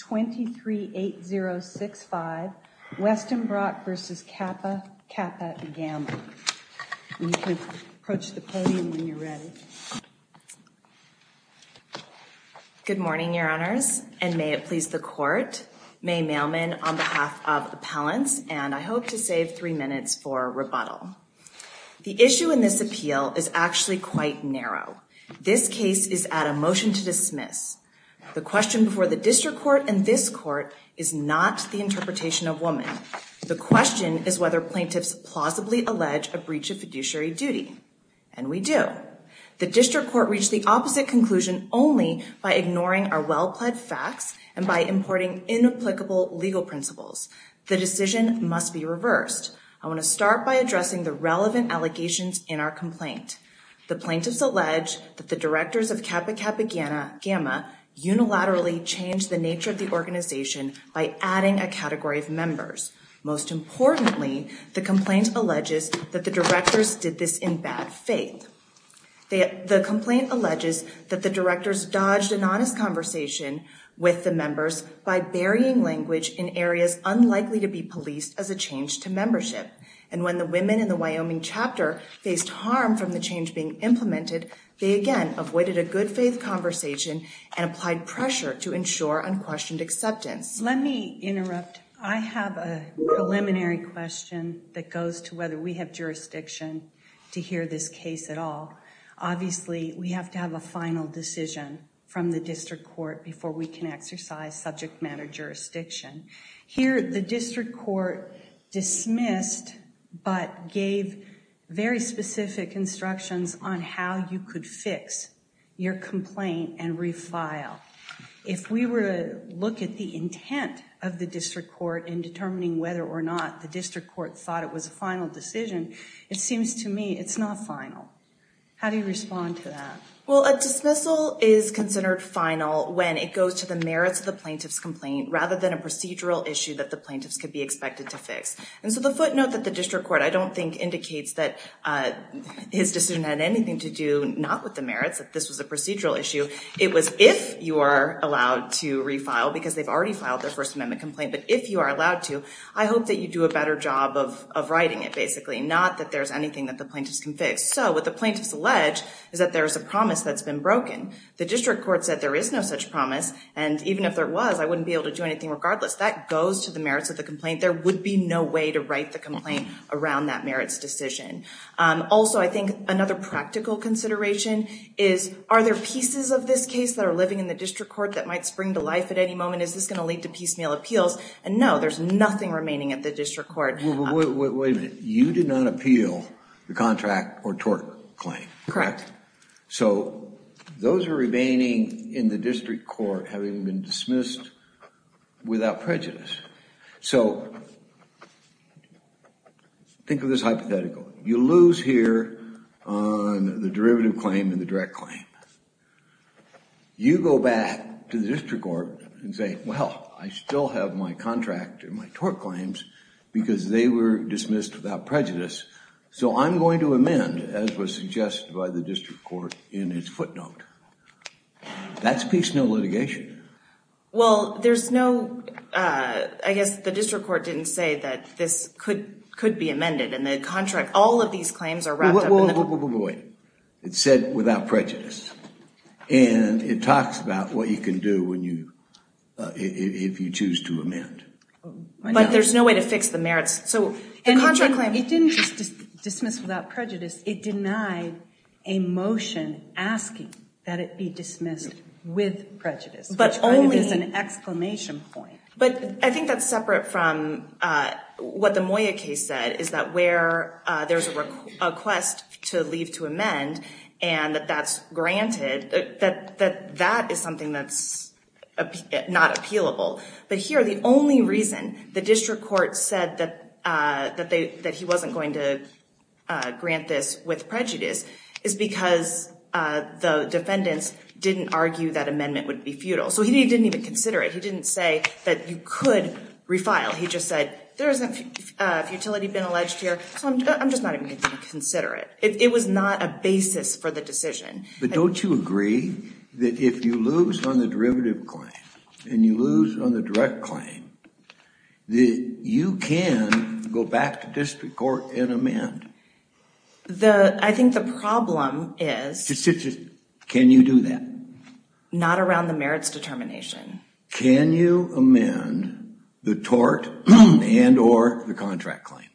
238065 Westenbroek versus Kappa Kappa Gamma. You can approach the podium when you're ready. Good morning your honors and may it please the court. May Mailman on behalf of appellants and I hope to save three minutes for rebuttal. The issue in this appeal is actually quite narrow. This case is at a motion to dismiss. The question before the district court and this court is not the interpretation of woman. The question is whether plaintiffs plausibly allege a breach of fiduciary duty and we do. The district court reached the opposite conclusion only by ignoring our well-pled facts and by importing inapplicable legal principles. The decision must be reversed. I want to start by addressing the relevant allegations in our complaint. The plaintiffs allege that the directors of Kappa Kappa Gamma unilaterally changed the nature of the organization by adding a category of members. Most importantly the complaint alleges that the directors did this in bad faith. The complaint alleges that the directors dodged an honest conversation with the members by burying language in areas unlikely to be policed as a change to membership and when the women in the Wyoming chapter faced harm from the change being implemented they again avoided a good faith conversation and applied pressure to ensure unquestioned acceptance. Let me interrupt. I have a preliminary question that goes to whether we have jurisdiction to hear this case at all. Obviously we have to have a final decision from the district court before we can exercise subject matter jurisdiction. Here the district court dismissed but gave very specific instructions on how you could fix your complaint and refile. If we were to look at the intent of the district court in determining whether or not the district court thought it was a final decision it seems to me it's not final. How do you respond to that? Well a dismissal is it goes to the merits of the plaintiff's complaint rather than a procedural issue that the plaintiffs could be expected to fix. And so the footnote that the district court I don't think indicates that his decision had anything to do not with the merits that this was a procedural issue. It was if you are allowed to refile because they've already filed their first amendment complaint but if you are allowed to I hope that you do a better job of of writing it basically not that there's anything that the plaintiffs can fix. So what the plaintiffs allege is that there is no such promise and even if there was I wouldn't be able to do anything regardless. That goes to the merits of the complaint. There would be no way to write the complaint around that merits decision. Also I think another practical consideration is are there pieces of this case that are living in the district court that might spring to life at any moment? Is this going to lead to piecemeal appeals? And no there's nothing remaining at the district court. Wait a minute you did not appeal the contract or tort claim. Correct. So those are remaining in the district court having been dismissed without prejudice. So think of this hypothetical. You lose here on the derivative claim and the direct claim. You go back to the district court and say well I still have my contract and my tort claims because they were dismissed without prejudice so I'm going to amend as was suggested by the district court in its footnote. That's piecemeal litigation. Well there's no I guess the district court didn't say that this could could be amended and the contract all of these claims are wrapped up. Wait it said without prejudice and it talks about what you can do when you if you choose to amend. But there's no way to fix the merits so the contract claim it didn't just dismiss without prejudice it denied a motion asking that it be dismissed with prejudice but only as an exclamation point. But I think that's separate from what the Moya case said is that where there's a request to leave to amend and that that's granted that that that is something that's not appealable. But here the only reason the district court said that that they that he wasn't going to grant this with prejudice is because the defendants didn't argue that amendment would be futile. So he didn't even consider it. He didn't say that you could refile. He just said there isn't a futility been alleged here so I'm just not going to consider it. It was not a basis for the decision. But don't you agree that if you lose on the derivative claim and you lose on the direct claim that you can go back to district court and amend? The I think the problem is. Can you do that? Not around the merits determination. Can you amend the tort and or the contract claim?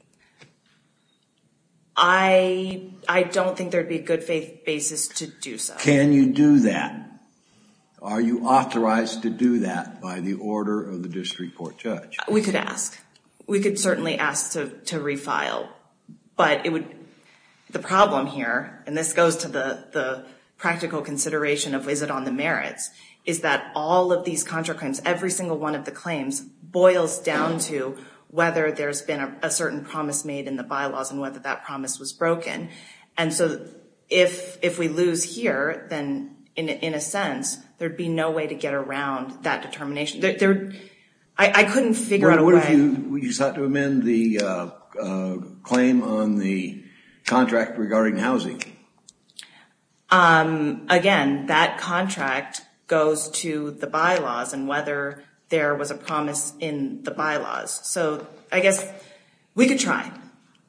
I don't think there'd be a good faith basis to do so. Can you do that? Are you authorized to do that by the order of the district court judge? We could ask. We could certainly ask to to refile but it would the problem here and this goes to the the practical consideration of is it on the merits is that all of these contract claims every single one of the claims boils down to whether there's been a certain promise made in the bylaws and whether that promise was broken. And so if if we lose here then in a sense there'd be no way to get around that determination. I couldn't figure out a way. Would you just have to amend the claim on the contract regarding housing? Again that contract goes to the bylaws and whether there was a promise in the bylaws. So I guess we could try.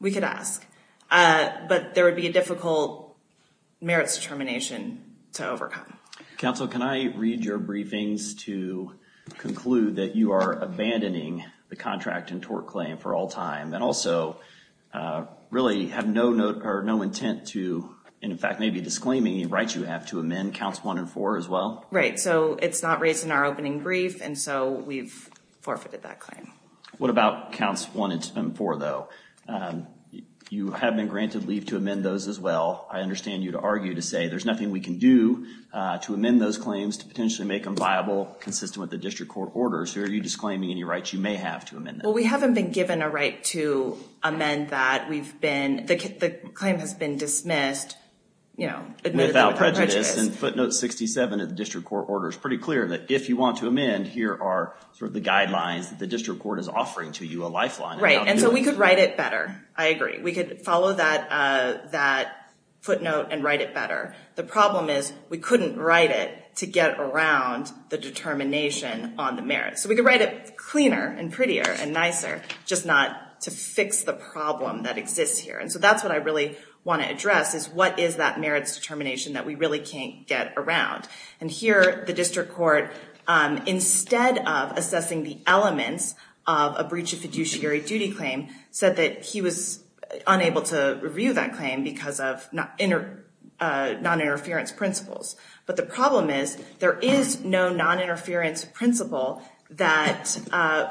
We could ask but there would be a difficult merits determination to overcome. Counsel can I read your briefings to conclude that you are abandoning the contract and tort claim for all time and also really have no note or no intent to in fact maybe disclaiming the rights you have to amend counts one and four as well? Right so it's not raised in our opening brief and so we've forfeited that claim. What about counts one and four though? You have been granted leave to amend those as well. I understand you'd argue to say there's nothing we can do to amend those claims to potentially make them viable consistent with the district court orders. Are you disclaiming any rights you may have to amend them? Well we haven't been given a right to amend that. We've been the claim has been dismissed you know without prejudice and footnote 67 of the district court order is pretty clear that if you want to amend here are sort of the guidelines the district court is offering to you a lifeline. Right and so we could write it better. I agree we could follow that footnote and write it better. The problem is we couldn't write it to get around the determination on the merit. So we could write it cleaner and prettier and nicer just not to fix the problem that exists here and so that's what I really want to address is what is that merits determination that we really can't get around and here the district court instead of assessing the elements of a breach of fiduciary duty claim said that he was unable to review that claim because of non-interference principles but the problem is there is no non-interference principle that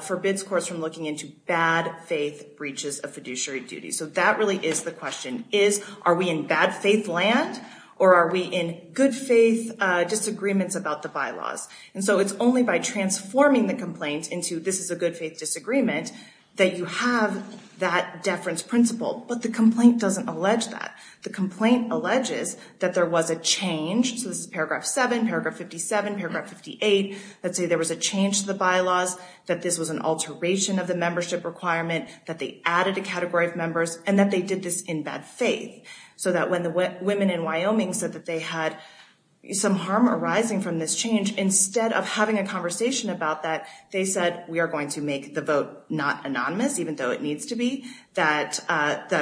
forbids courts from looking into bad faith breaches of fiduciary duty so that really is the question is are we in bad faith land or are we in good faith disagreements about the bylaws and so it's only by transforming the complaint into this is a good faith disagreement that you have that deference principle but the complaint doesn't allege that. The complaint alleges that there was a change so this is paragraph 7 paragraph 57 paragraph 58 let's say there was a change to the bylaws that this was an alteration of the membership requirement that they added a category of members and that they did this in bad faith so that when the women in Wyoming said that they had some harm arising from this change instead of having a conversation about that they said we are going to make the vote not anonymous even though it needs to be that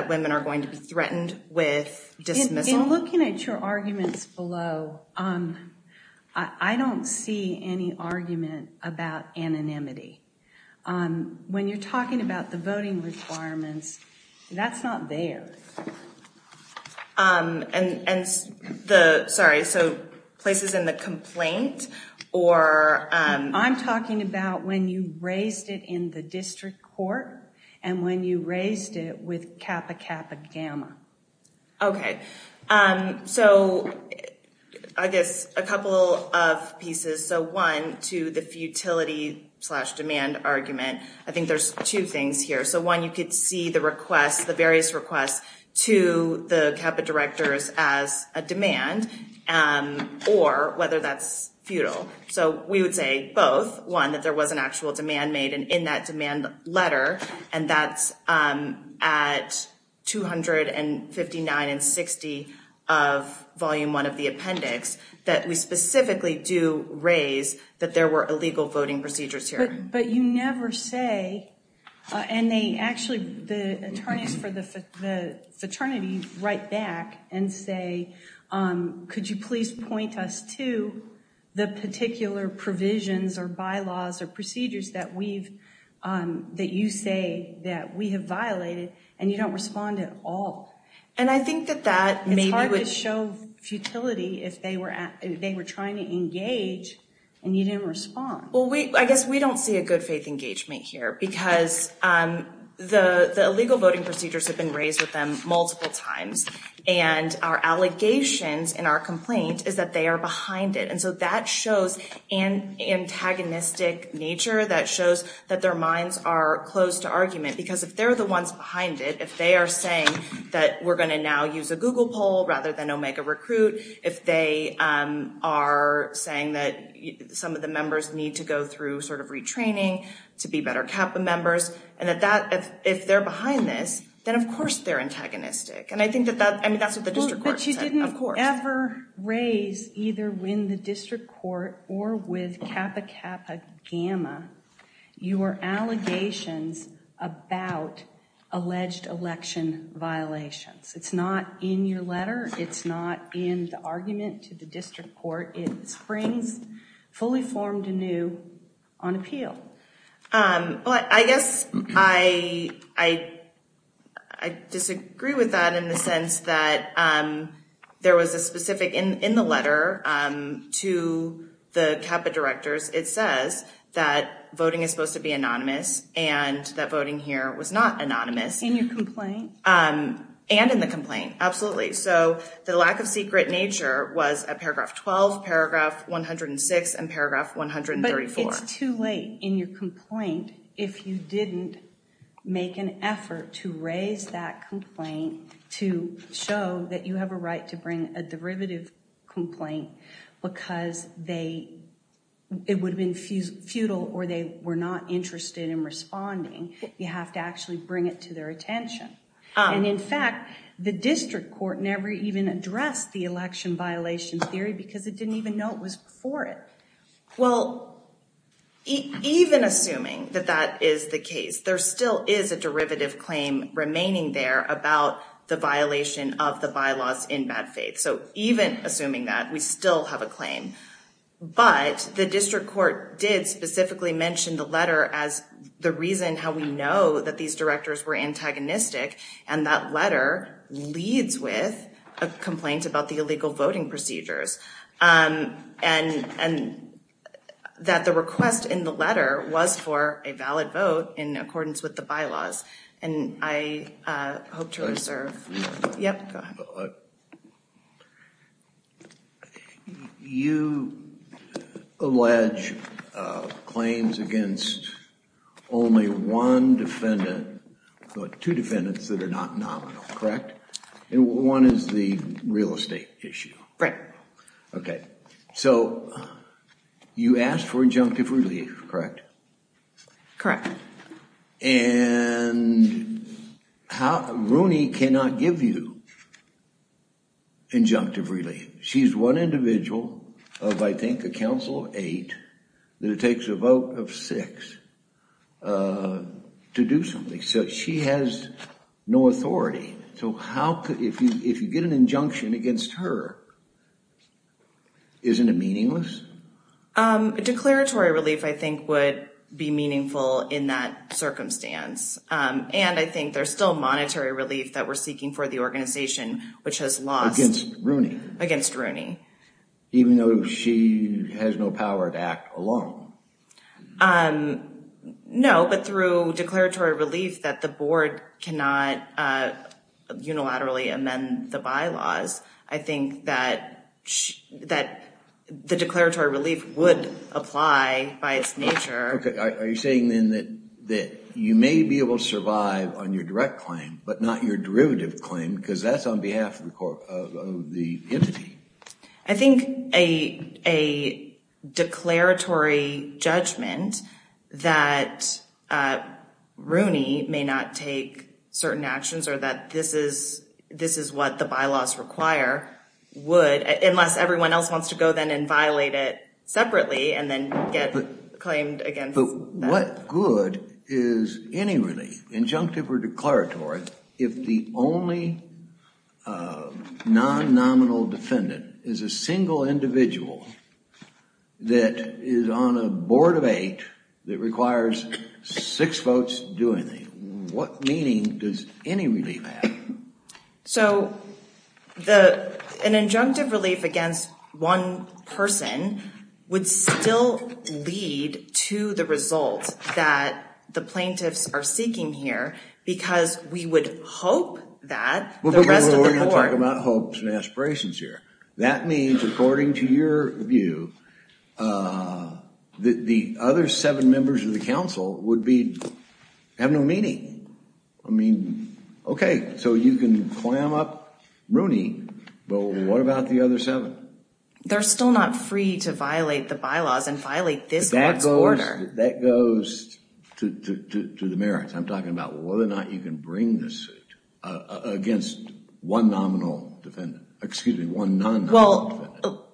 women are going to be threatened with dismissal. Looking at your arguments below, I don't see any argument about anonymity when you're talking about the voting requirements that's not there. And the sorry so places in the complaint or I'm talking about when you raised it in the district court and when you raised it with Kappa Kappa Gamma. Okay so I guess a couple of pieces so one to the futility slash demand argument I think there's two things here so one you could see the request the various requests to the Kappa directors as a demand or whether that's futile so we would say both one there was an actual demand made and in that demand letter and that's at 259 and 60 of volume one of the appendix that we specifically do raise that there were illegal voting procedures here. But you never say and they actually the attorneys for the fraternity write back and say could you please point us to the particular provisions or bylaws or procedures that we've that you say that we have violated and you don't respond at all. And I think that that maybe would show futility if they were at they were trying to engage and you didn't respond. Well we I guess we don't see a good faith engagement here because the the illegal voting procedures have been raised with them multiple times and our allegations in our complaint is that they are behind it and so that shows an antagonistic nature that shows that their minds are close to argument because if they're the ones behind it if they are saying that we're going to now use a google poll rather than omega recruit if they are saying that some of the members need to go through sort of retraining to be better CAPA members and that that if they're behind this then of course they're antagonistic and I think that that I mean that's what the district court said of course. But you didn't ever raise either when the district court or with CAPA-CAPA-Gamma your allegations about alleged election violations. It's not in your letter it's not in the argument to the district court. It springs fully formed anew on appeal. Well I guess I disagree with that in the sense that there was a specific in the letter to the CAPA directors it says that voting is supposed to be anonymous and that voting here was not anonymous. In your complaint? And in the complaint absolutely so the lack of secret nature was at paragraph 12 paragraph 106 and paragraph 134. But it's too late in your complaint if you didn't make an effort to raise that complaint to show that you have a right to bring a derivative complaint because they it would have been futile or they were not interested in responding. You have to actually bring it to their attention and in fact the district court never even addressed the election violation theory because it didn't even know it was before it. Well even assuming that that is the case there still is a derivative claim remaining there about the violation of the bylaws in bad faith. So even assuming that we still have a claim but the district court did specifically mention the letter as the reason how we know that these directors were antagonistic and that letter leads with a complaint about the illegal voting procedures and that the request in the letter was for a valid vote in accordance with the bylaws and I hope to claims against only one defendant but two defendants that are not nominal, correct? One is the real estate issue. Correct. Okay so you asked for injunctive relief, correct? Correct. And Rooney cannot give you injunctive relief. She's one individual of I think a council of eight that it takes a vote of six to do something so she has no authority. So how could if you if you get an injunction against her isn't it meaningless? A declaratory relief I think would be meaningful in that circumstance and I think there's still monetary relief that we're seeking for the organization which has lost. Against Rooney? Against Rooney. Even though she has no power to act alone? No but through declaratory relief that the board cannot unilaterally amend the bylaws I think that that the declaratory relief would apply by its nature. Okay are you saying then that that you may be able to survive on your direct claim but not your derivative claim because that's on behalf of the entity? I think a declaratory judgment that Rooney may not take certain actions or that this is what the bylaws require would unless everyone else wants to go then and violate it separately and then get claimed against. But what good is any relief injunctive or declaratory if the only non-nominal defendant is a single individual that is on a board of eight that requires six votes doing the what meaning does any relief have? So the an injunctive relief against one person would still lead to the result that the plaintiffs are seeking here because we would hope that the rest of the board. We're going to talk about hopes and aspirations here. That means according to your view that the other seven members of the council would be have no meaning. I mean okay so you can clam up Rooney but what about the other seven? They're still not free to violate the bylaws and violate this order. That goes to the merits. I'm talking about whether or not you can bring this suit against one nominal defendant excuse me. Well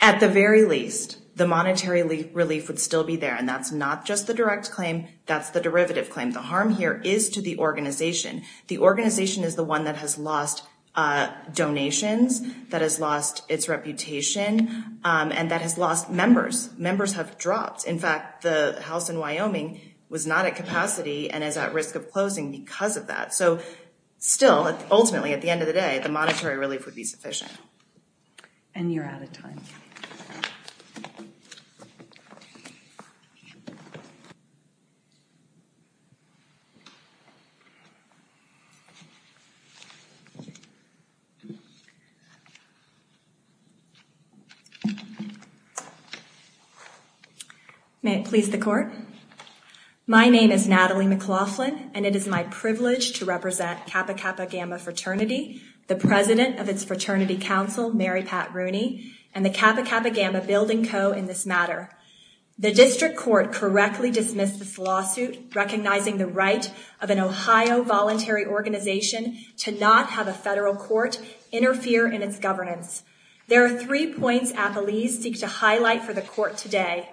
at the very least the monetary relief would still be there and that's not just the direct claim that's the derivative claim. The harm here is to the organization. The organization is one that has lost donations. That has lost its reputation and that has lost members. Members have dropped. In fact the house in Wyoming was not at capacity and is at risk of closing because of that. So still ultimately at the end of the day the monetary relief would be sufficient. And you're out of time. May it please the court. My name is Natalie McLaughlin and it is my privilege to represent Kappa Kappa Gamma Fraternity, the president of its fraternity council Mary Pat Rooney, and the Kappa Kappa Gamma Building Co. in this matter. The district court correctly dismissed this lawsuit recognizing the right of an Ohio voluntary organization to have a federal court interfere in its governance. There are three points Appalese seek to highlight for the court today.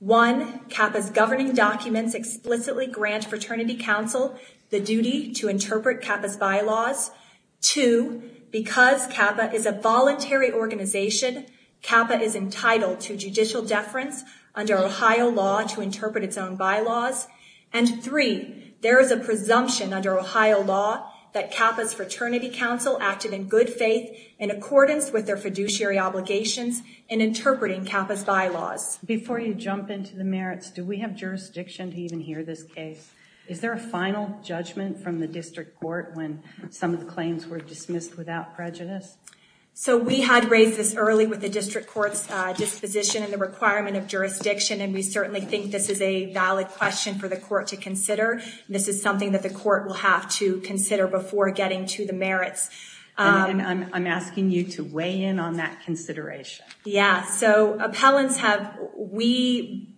One, Kappa's governing documents explicitly grant fraternity council the duty to interpret Kappa's bylaws. Two, because Kappa is a voluntary organization, Kappa is entitled to judicial deference under Ohio law to interpret its own bylaws. And three, there is a presumption under Ohio law that Kappa's fraternity council acted in good faith in accordance with their fiduciary obligations in interpreting Kappa's bylaws. Before you jump into the merits, do we have jurisdiction to even hear this case? Is there a final judgment from the district court when some of the claims were dismissed without prejudice? So we had raised this early with the district court's disposition and the requirement of jurisdiction and we certainly think this is a valid question for the court to consider. This is something that the court will have to consider before getting to the merits. And I'm asking you to weigh in on that consideration. Yeah, so appellants have, we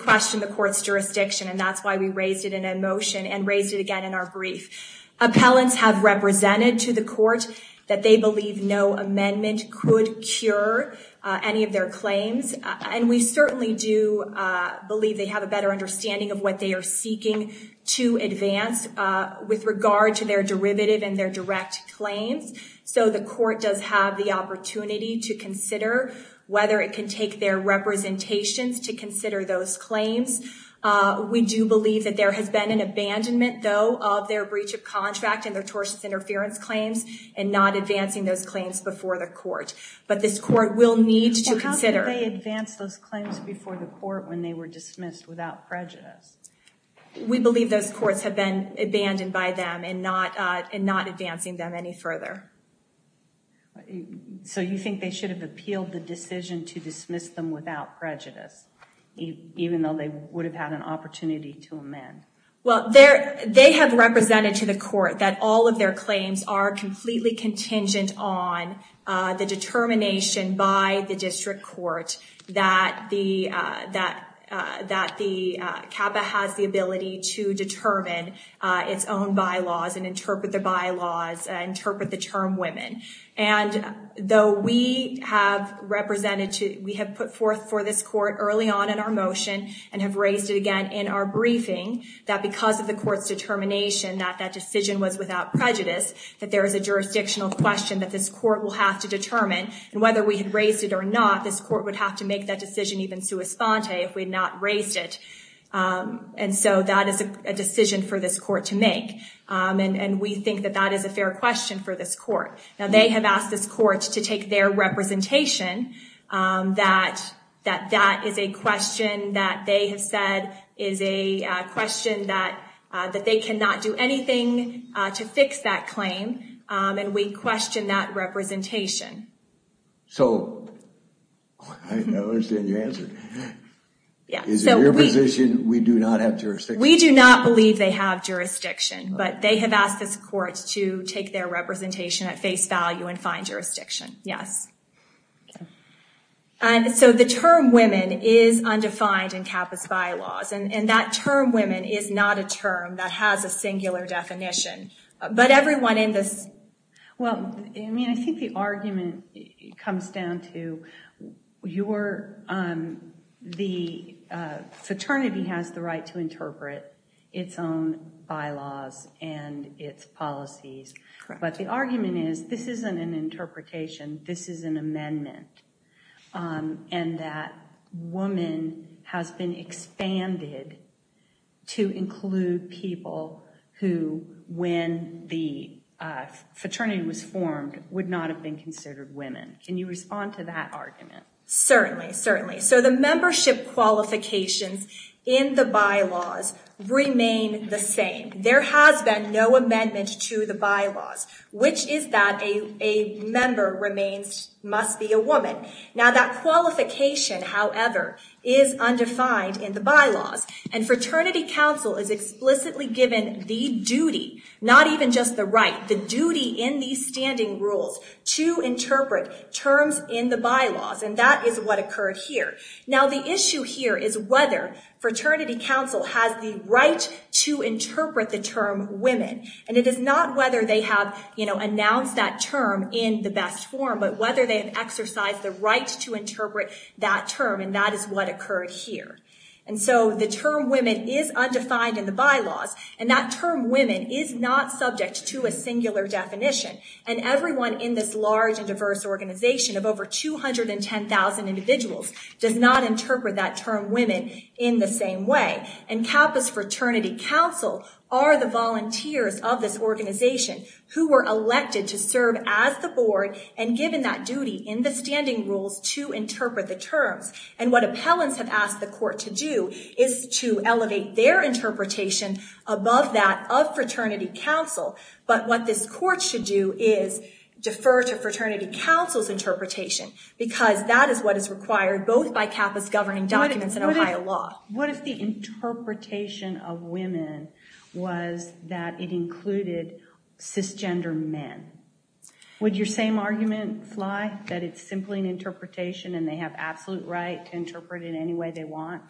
question the court's jurisdiction and that's why we raised it in a motion and raised it again in our brief. Appellants have represented to the court that they believe no believe they have a better understanding of what they are seeking to advance with regard to their derivative and their direct claims. So the court does have the opportunity to consider whether it can take their representations to consider those claims. We do believe that there has been an abandonment though of their breach of contract and their tortious interference claims and not advancing those claims before the court. But this court will need to consider. How can they advance those claims before the court when they were dismissed without prejudice? We believe those courts have been abandoned by them and not advancing them any further. So you think they should have appealed the decision to dismiss them without prejudice even though they would have had an opportunity to amend? Well, they have represented to the court that all of their claims are that the CAPA has the ability to determine its own bylaws and interpret the bylaws, interpret the term women. And though we have represented to, we have put forth for this court early on in our motion and have raised it again in our briefing that because of the court's determination that that decision was without prejudice that there is a jurisdictional question that this court will have to determine. And whether we had raised it or not, this court would have to make that decision even sua sponte if we had not raised it. And so that is a decision for this court to make. And we think that that is a fair question for this court. Now they have asked this court to take their representation that that is a question that they have said is a question that they cannot do anything to fix that claim. And we question that representation. So I don't understand your answer. Is it your position we do not have jurisdiction? We do not believe they have jurisdiction, but they have asked this court to take their representation at face value and find jurisdiction. Yes. And so the term women is undefined in CAPA's bylaws. And that term women is not a term that has a singular definition. But everyone in this. Well, I mean, I think the argument comes down to your the fraternity has the right to interpret its own bylaws and its policies. But the argument is this isn't an interpretation. This is an amendment. And that woman has been expanded to include people who, when the fraternity was formed, would not have been considered women. Can you respond to that argument? Certainly. Certainly. So the membership qualifications in the bylaws remain the same. There has been no amendment to the bylaws, which is that a in the bylaws. And Fraternity Council is explicitly given the duty, not even just the right, the duty in these standing rules to interpret terms in the bylaws. And that is what occurred here. Now, the issue here is whether Fraternity Council has the right to interpret the term women. And it is not whether they have announced that term in the best form, but whether they have exercised the right to interpret that term. And that is what occurred here. And so the term women is undefined in the bylaws. And that term women is not subject to a singular definition. And everyone in this large and diverse organization of over 210,000 individuals does not interpret that term women in the same way. And Campus Fraternity Council are the volunteers of this organization who were elected to serve as the board and given that duty in the standing rules to interpret the terms. And what appellants have asked the court to do is to elevate their interpretation above that of Fraternity Council. But what this court should do is defer to Fraternity Council's interpretation because that is what is required both by campus governing documents and Ohio law. What if the interpretation of women was that it included cisgender men? Would your same argument fly that it's simply an interpretation and they have absolute right to interpret it any way they want?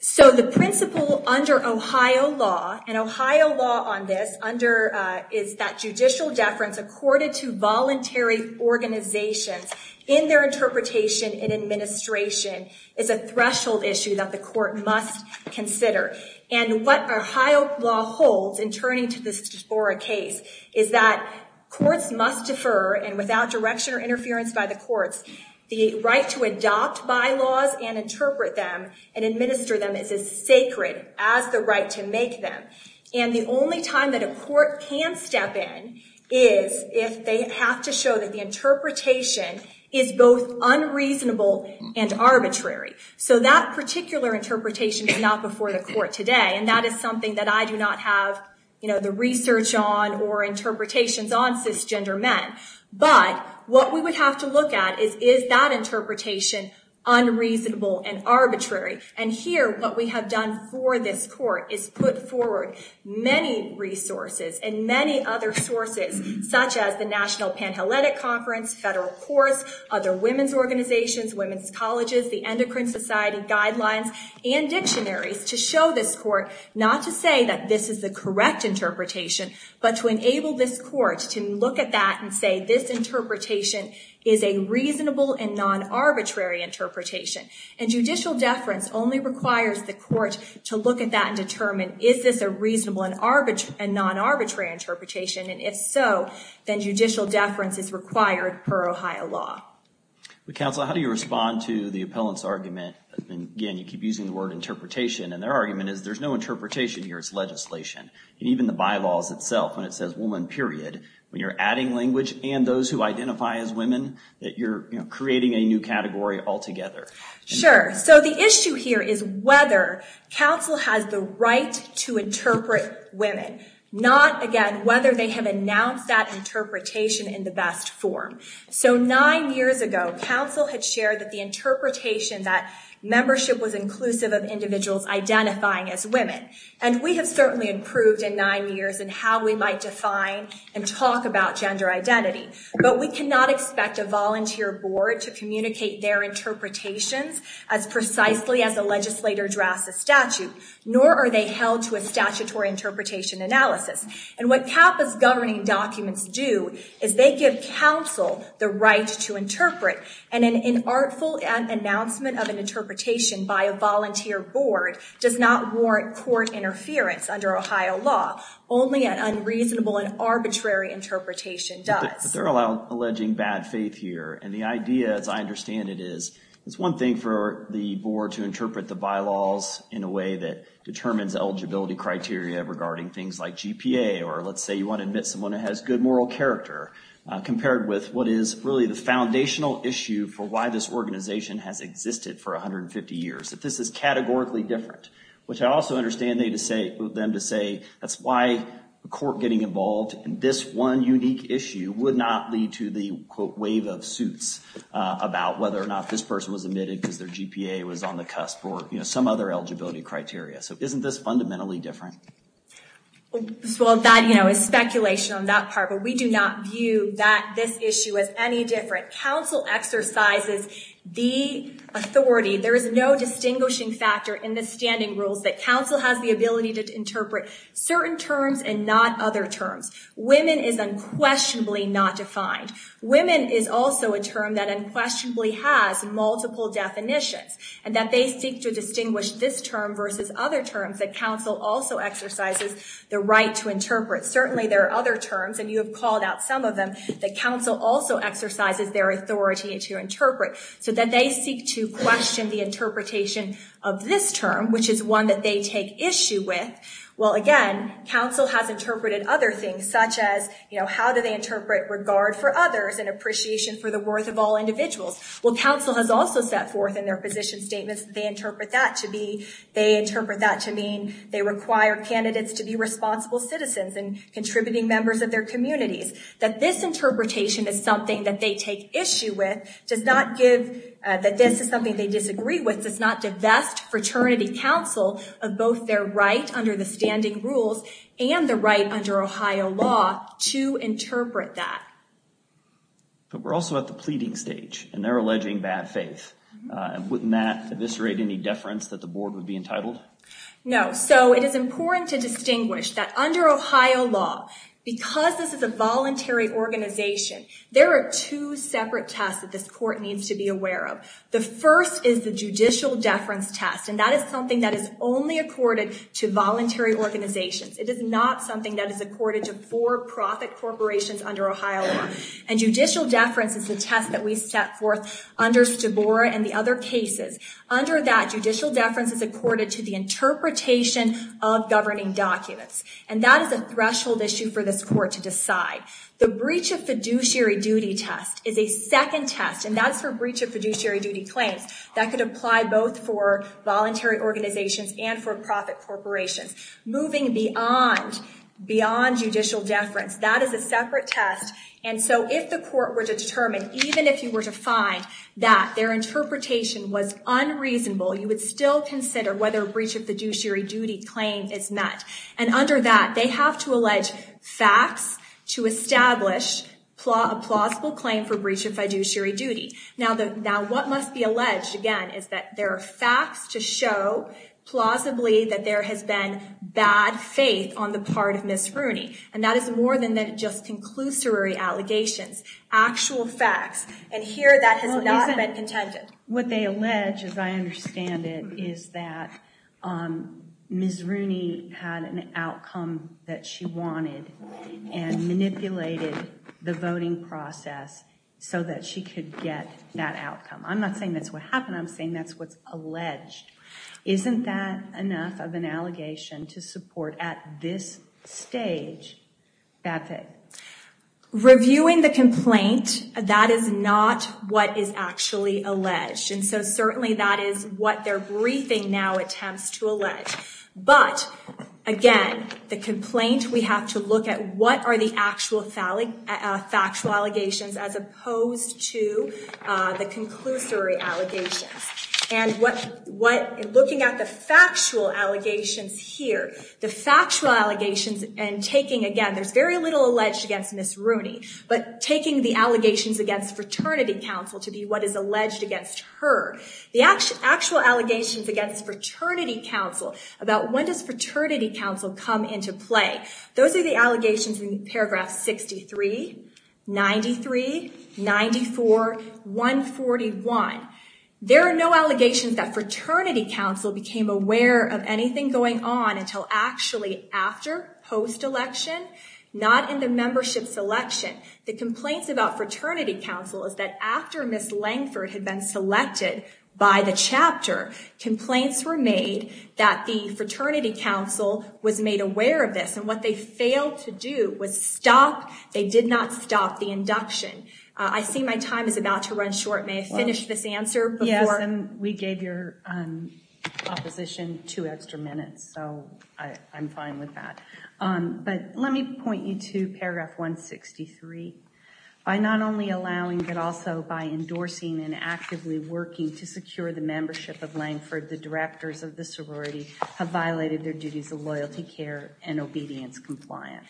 So the principle under Ohio law and Ohio law on this under is that judicial deference accorded to voluntary organizations in their interpretation and administration is a threshold issue that the must consider. And what Ohio law holds in turning to this case is that courts must defer and without direction or interference by the courts the right to adopt bylaws and interpret them and administer them is as sacred as the right to make them. And the only time that a court can step in is if they have to show that the interpretation is both unreasonable and arbitrary. So that particular interpretation is not before the court today and that is something that I do not have the research on or interpretations on cisgender men. But what we would have to look at is, is that interpretation unreasonable and arbitrary? And here what we have done for this court is put forward many resources and many other sources such as the National Panhellenic Conference, federal courts, other and dictionaries to show this court not to say that this is the correct interpretation but to enable this court to look at that and say this interpretation is a reasonable and non-arbitrary interpretation. And judicial deference only requires the court to look at that and determine is this a reasonable and non-arbitrary interpretation and if so then judicial deference is required per Ohio law. But counsel how do you respond to the appellant's argument again you keep using the word interpretation and their argument is there's no interpretation here it's legislation and even the bylaws itself when it says woman period when you're adding language and those who identify as women that you're creating a new category altogether. Sure so the issue here is whether counsel has the right to interpret women not again whether they have announced that interpretation in the best form. So nine years ago counsel had shared that the membership was inclusive of individuals identifying as women and we have certainly improved in nine years in how we might define and talk about gender identity but we cannot expect a volunteer board to communicate their interpretations as precisely as a legislator drafts a statute nor are they held to a statutory interpretation analysis and what CAPA's governing documents do is they give counsel the right to interpret and an artful announcement of an interpretation by a volunteer board does not warrant court interference under Ohio law only an unreasonable and arbitrary interpretation does. But they're alleging bad faith here and the idea as I understand it is it's one thing for the board to interpret the bylaws in a way that determines eligibility criteria regarding things like GPA or let's say you want to admit someone who has good moral character compared with what is really the foundational issue for why this organization has existed for 150 years that this is categorically different which I also understand they to say them to say that's why the court getting involved and this one unique issue would not lead to the quote wave of suits about whether or not this person was admitted because their GPA was on the cusp or you know some other eligibility criteria so isn't this fundamentally different? Well that you know is speculation on that part but we do not view that this issue as any different counsel exercises the authority there is no distinguishing factor in the standing rules that counsel has the ability to interpret certain terms and not other terms. Women is unquestionably not defined. Women is also a term that unquestionably has multiple definitions and that seek to distinguish this term versus other terms that counsel also exercises the right to interpret certainly there are other terms and you have called out some of them that counsel also exercises their authority to interpret so that they seek to question the interpretation of this term which is one that they take issue with well again counsel has interpreted other things such as you know how do they interpret regard for others and appreciation for the worth of all individuals well counsel has also set forth in their position statements they interpret that to be they interpret that to mean they require candidates to be responsible citizens and contributing members of their communities that this interpretation is something that they take issue with does not give that this is something they disagree with does not divest fraternity counsel of both their right under the standing rules and the right under Ohio law to interpret that. But we're also at the pleading stage and they're alleging bad faith and wouldn't that eviscerate any deference that the board would be entitled? No so it is important to distinguish that under Ohio law because this is a voluntary organization there are two separate tests that this court needs to be aware of the first is the judicial deference test and that is something that is only accorded to voluntary organizations it is not something that is accorded to for-profit corporations under Ohio law and judicial deference is the test that we set forth under Stavora and the other cases under that judicial deference is accorded to the interpretation of governing documents and that is a threshold issue for this court to decide the breach of fiduciary duty test is a second test and that's for breach of fiduciary duty claims that could apply both for voluntary organizations and for-profit corporations moving beyond judicial deference that is a separate test and so if the court were to determine even if you were to find that their interpretation was unreasonable you would still consider whether a breach of fiduciary duty claim is met and under that they have to allege facts to establish a plausible claim for breach of fiduciary duty now what must be alleged again is that there are facts to show plausibly that there has been bad faith on the part of Ms. Rooney and that is more than that just conclusory allegations actual facts and here that has not been contended what they allege as I understand it is that um Ms. Rooney had an outcome that she wanted and manipulated the voting process so that she could get that outcome I'm not saying that's what's alleged isn't that enough of an allegation to support at this stage bad faith reviewing the complaint that is not what is actually alleged and so certainly that is what they're briefing now attempts to allege but again the complaint we have to look at what are the actual factual allegations as opposed to the conclusory allegations and what looking at the factual allegations here the factual allegations and taking again there's very little alleged against Ms. Rooney but taking the allegations against fraternity council to be what is alleged against her the actual allegations against fraternity council about when does fraternity council come into play those are the allegations in paragraph 63, 93, 94, 141 there are no allegations that fraternity council became aware of anything going on until actually after post-election not in the membership selection the complaints about fraternity council is that after Ms. Langford had been selected by the chapter complaints were made that the fraternity council was made aware of this and what they failed to do was stop they did not stop the induction I see my time is about to run short may I finish this answer yes and we gave your opposition two extra minutes so I'm fine with that but let me point you to paragraph 163 by not only allowing but also by endorsing and actively working to secure the membership of the loyalty care and obedience compliance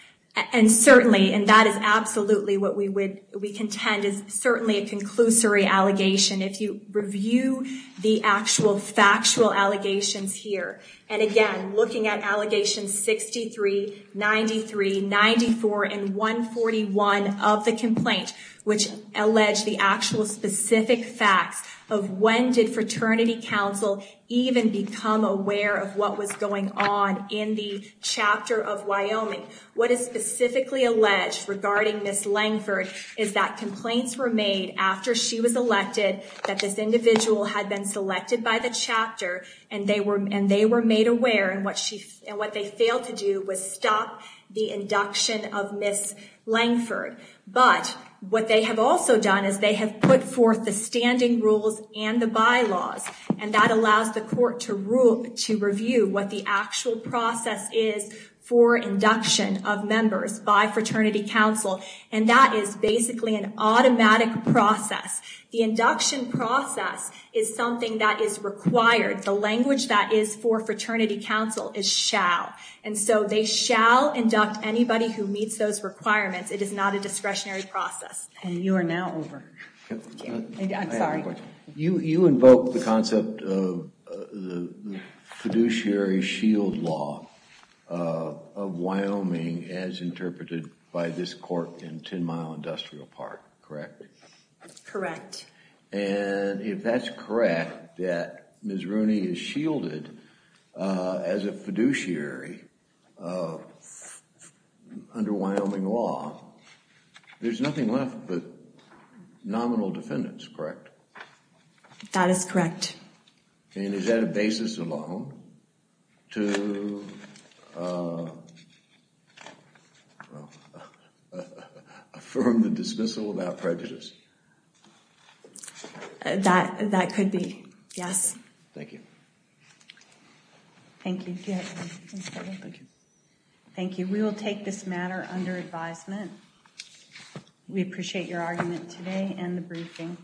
and certainly and that is absolutely what we would we contend is certainly a conclusory allegation if you review the actual factual allegations here and again looking at allegations 63, 93, 94, and 141 of the complaint which allege the actual specific facts of when did fraternity council even become aware of what was going on in the chapter of Wyoming what is specifically alleged regarding Ms. Langford is that complaints were made after she was elected that this individual had been selected by the chapter and they were and they were made aware and what she and what they failed to do was stop the induction of Ms. Langford but what they have also done is they have put forth the standing rules and the bylaws and that allows the court to rule to review what the actual process is for induction of members by fraternity council and that is basically an automatic process the induction process is something that is required the language that is for fraternity council is shall and so they shall induct anybody who meets those requirements it is not a discretionary process and you are now over I'm sorry you you invoke the concept of the fiduciary shield law of Wyoming as interpreted by this court in 10 mile industrial park correct correct and if that's correct that Ms. Rooney is under Wyoming law there's nothing left but nominal defendants correct that is correct and is that a basis alone to affirm the dismissal without prejudice that that could be yes thank you thank you thank you we will take this matter under advisement we appreciate your argument today and the briefing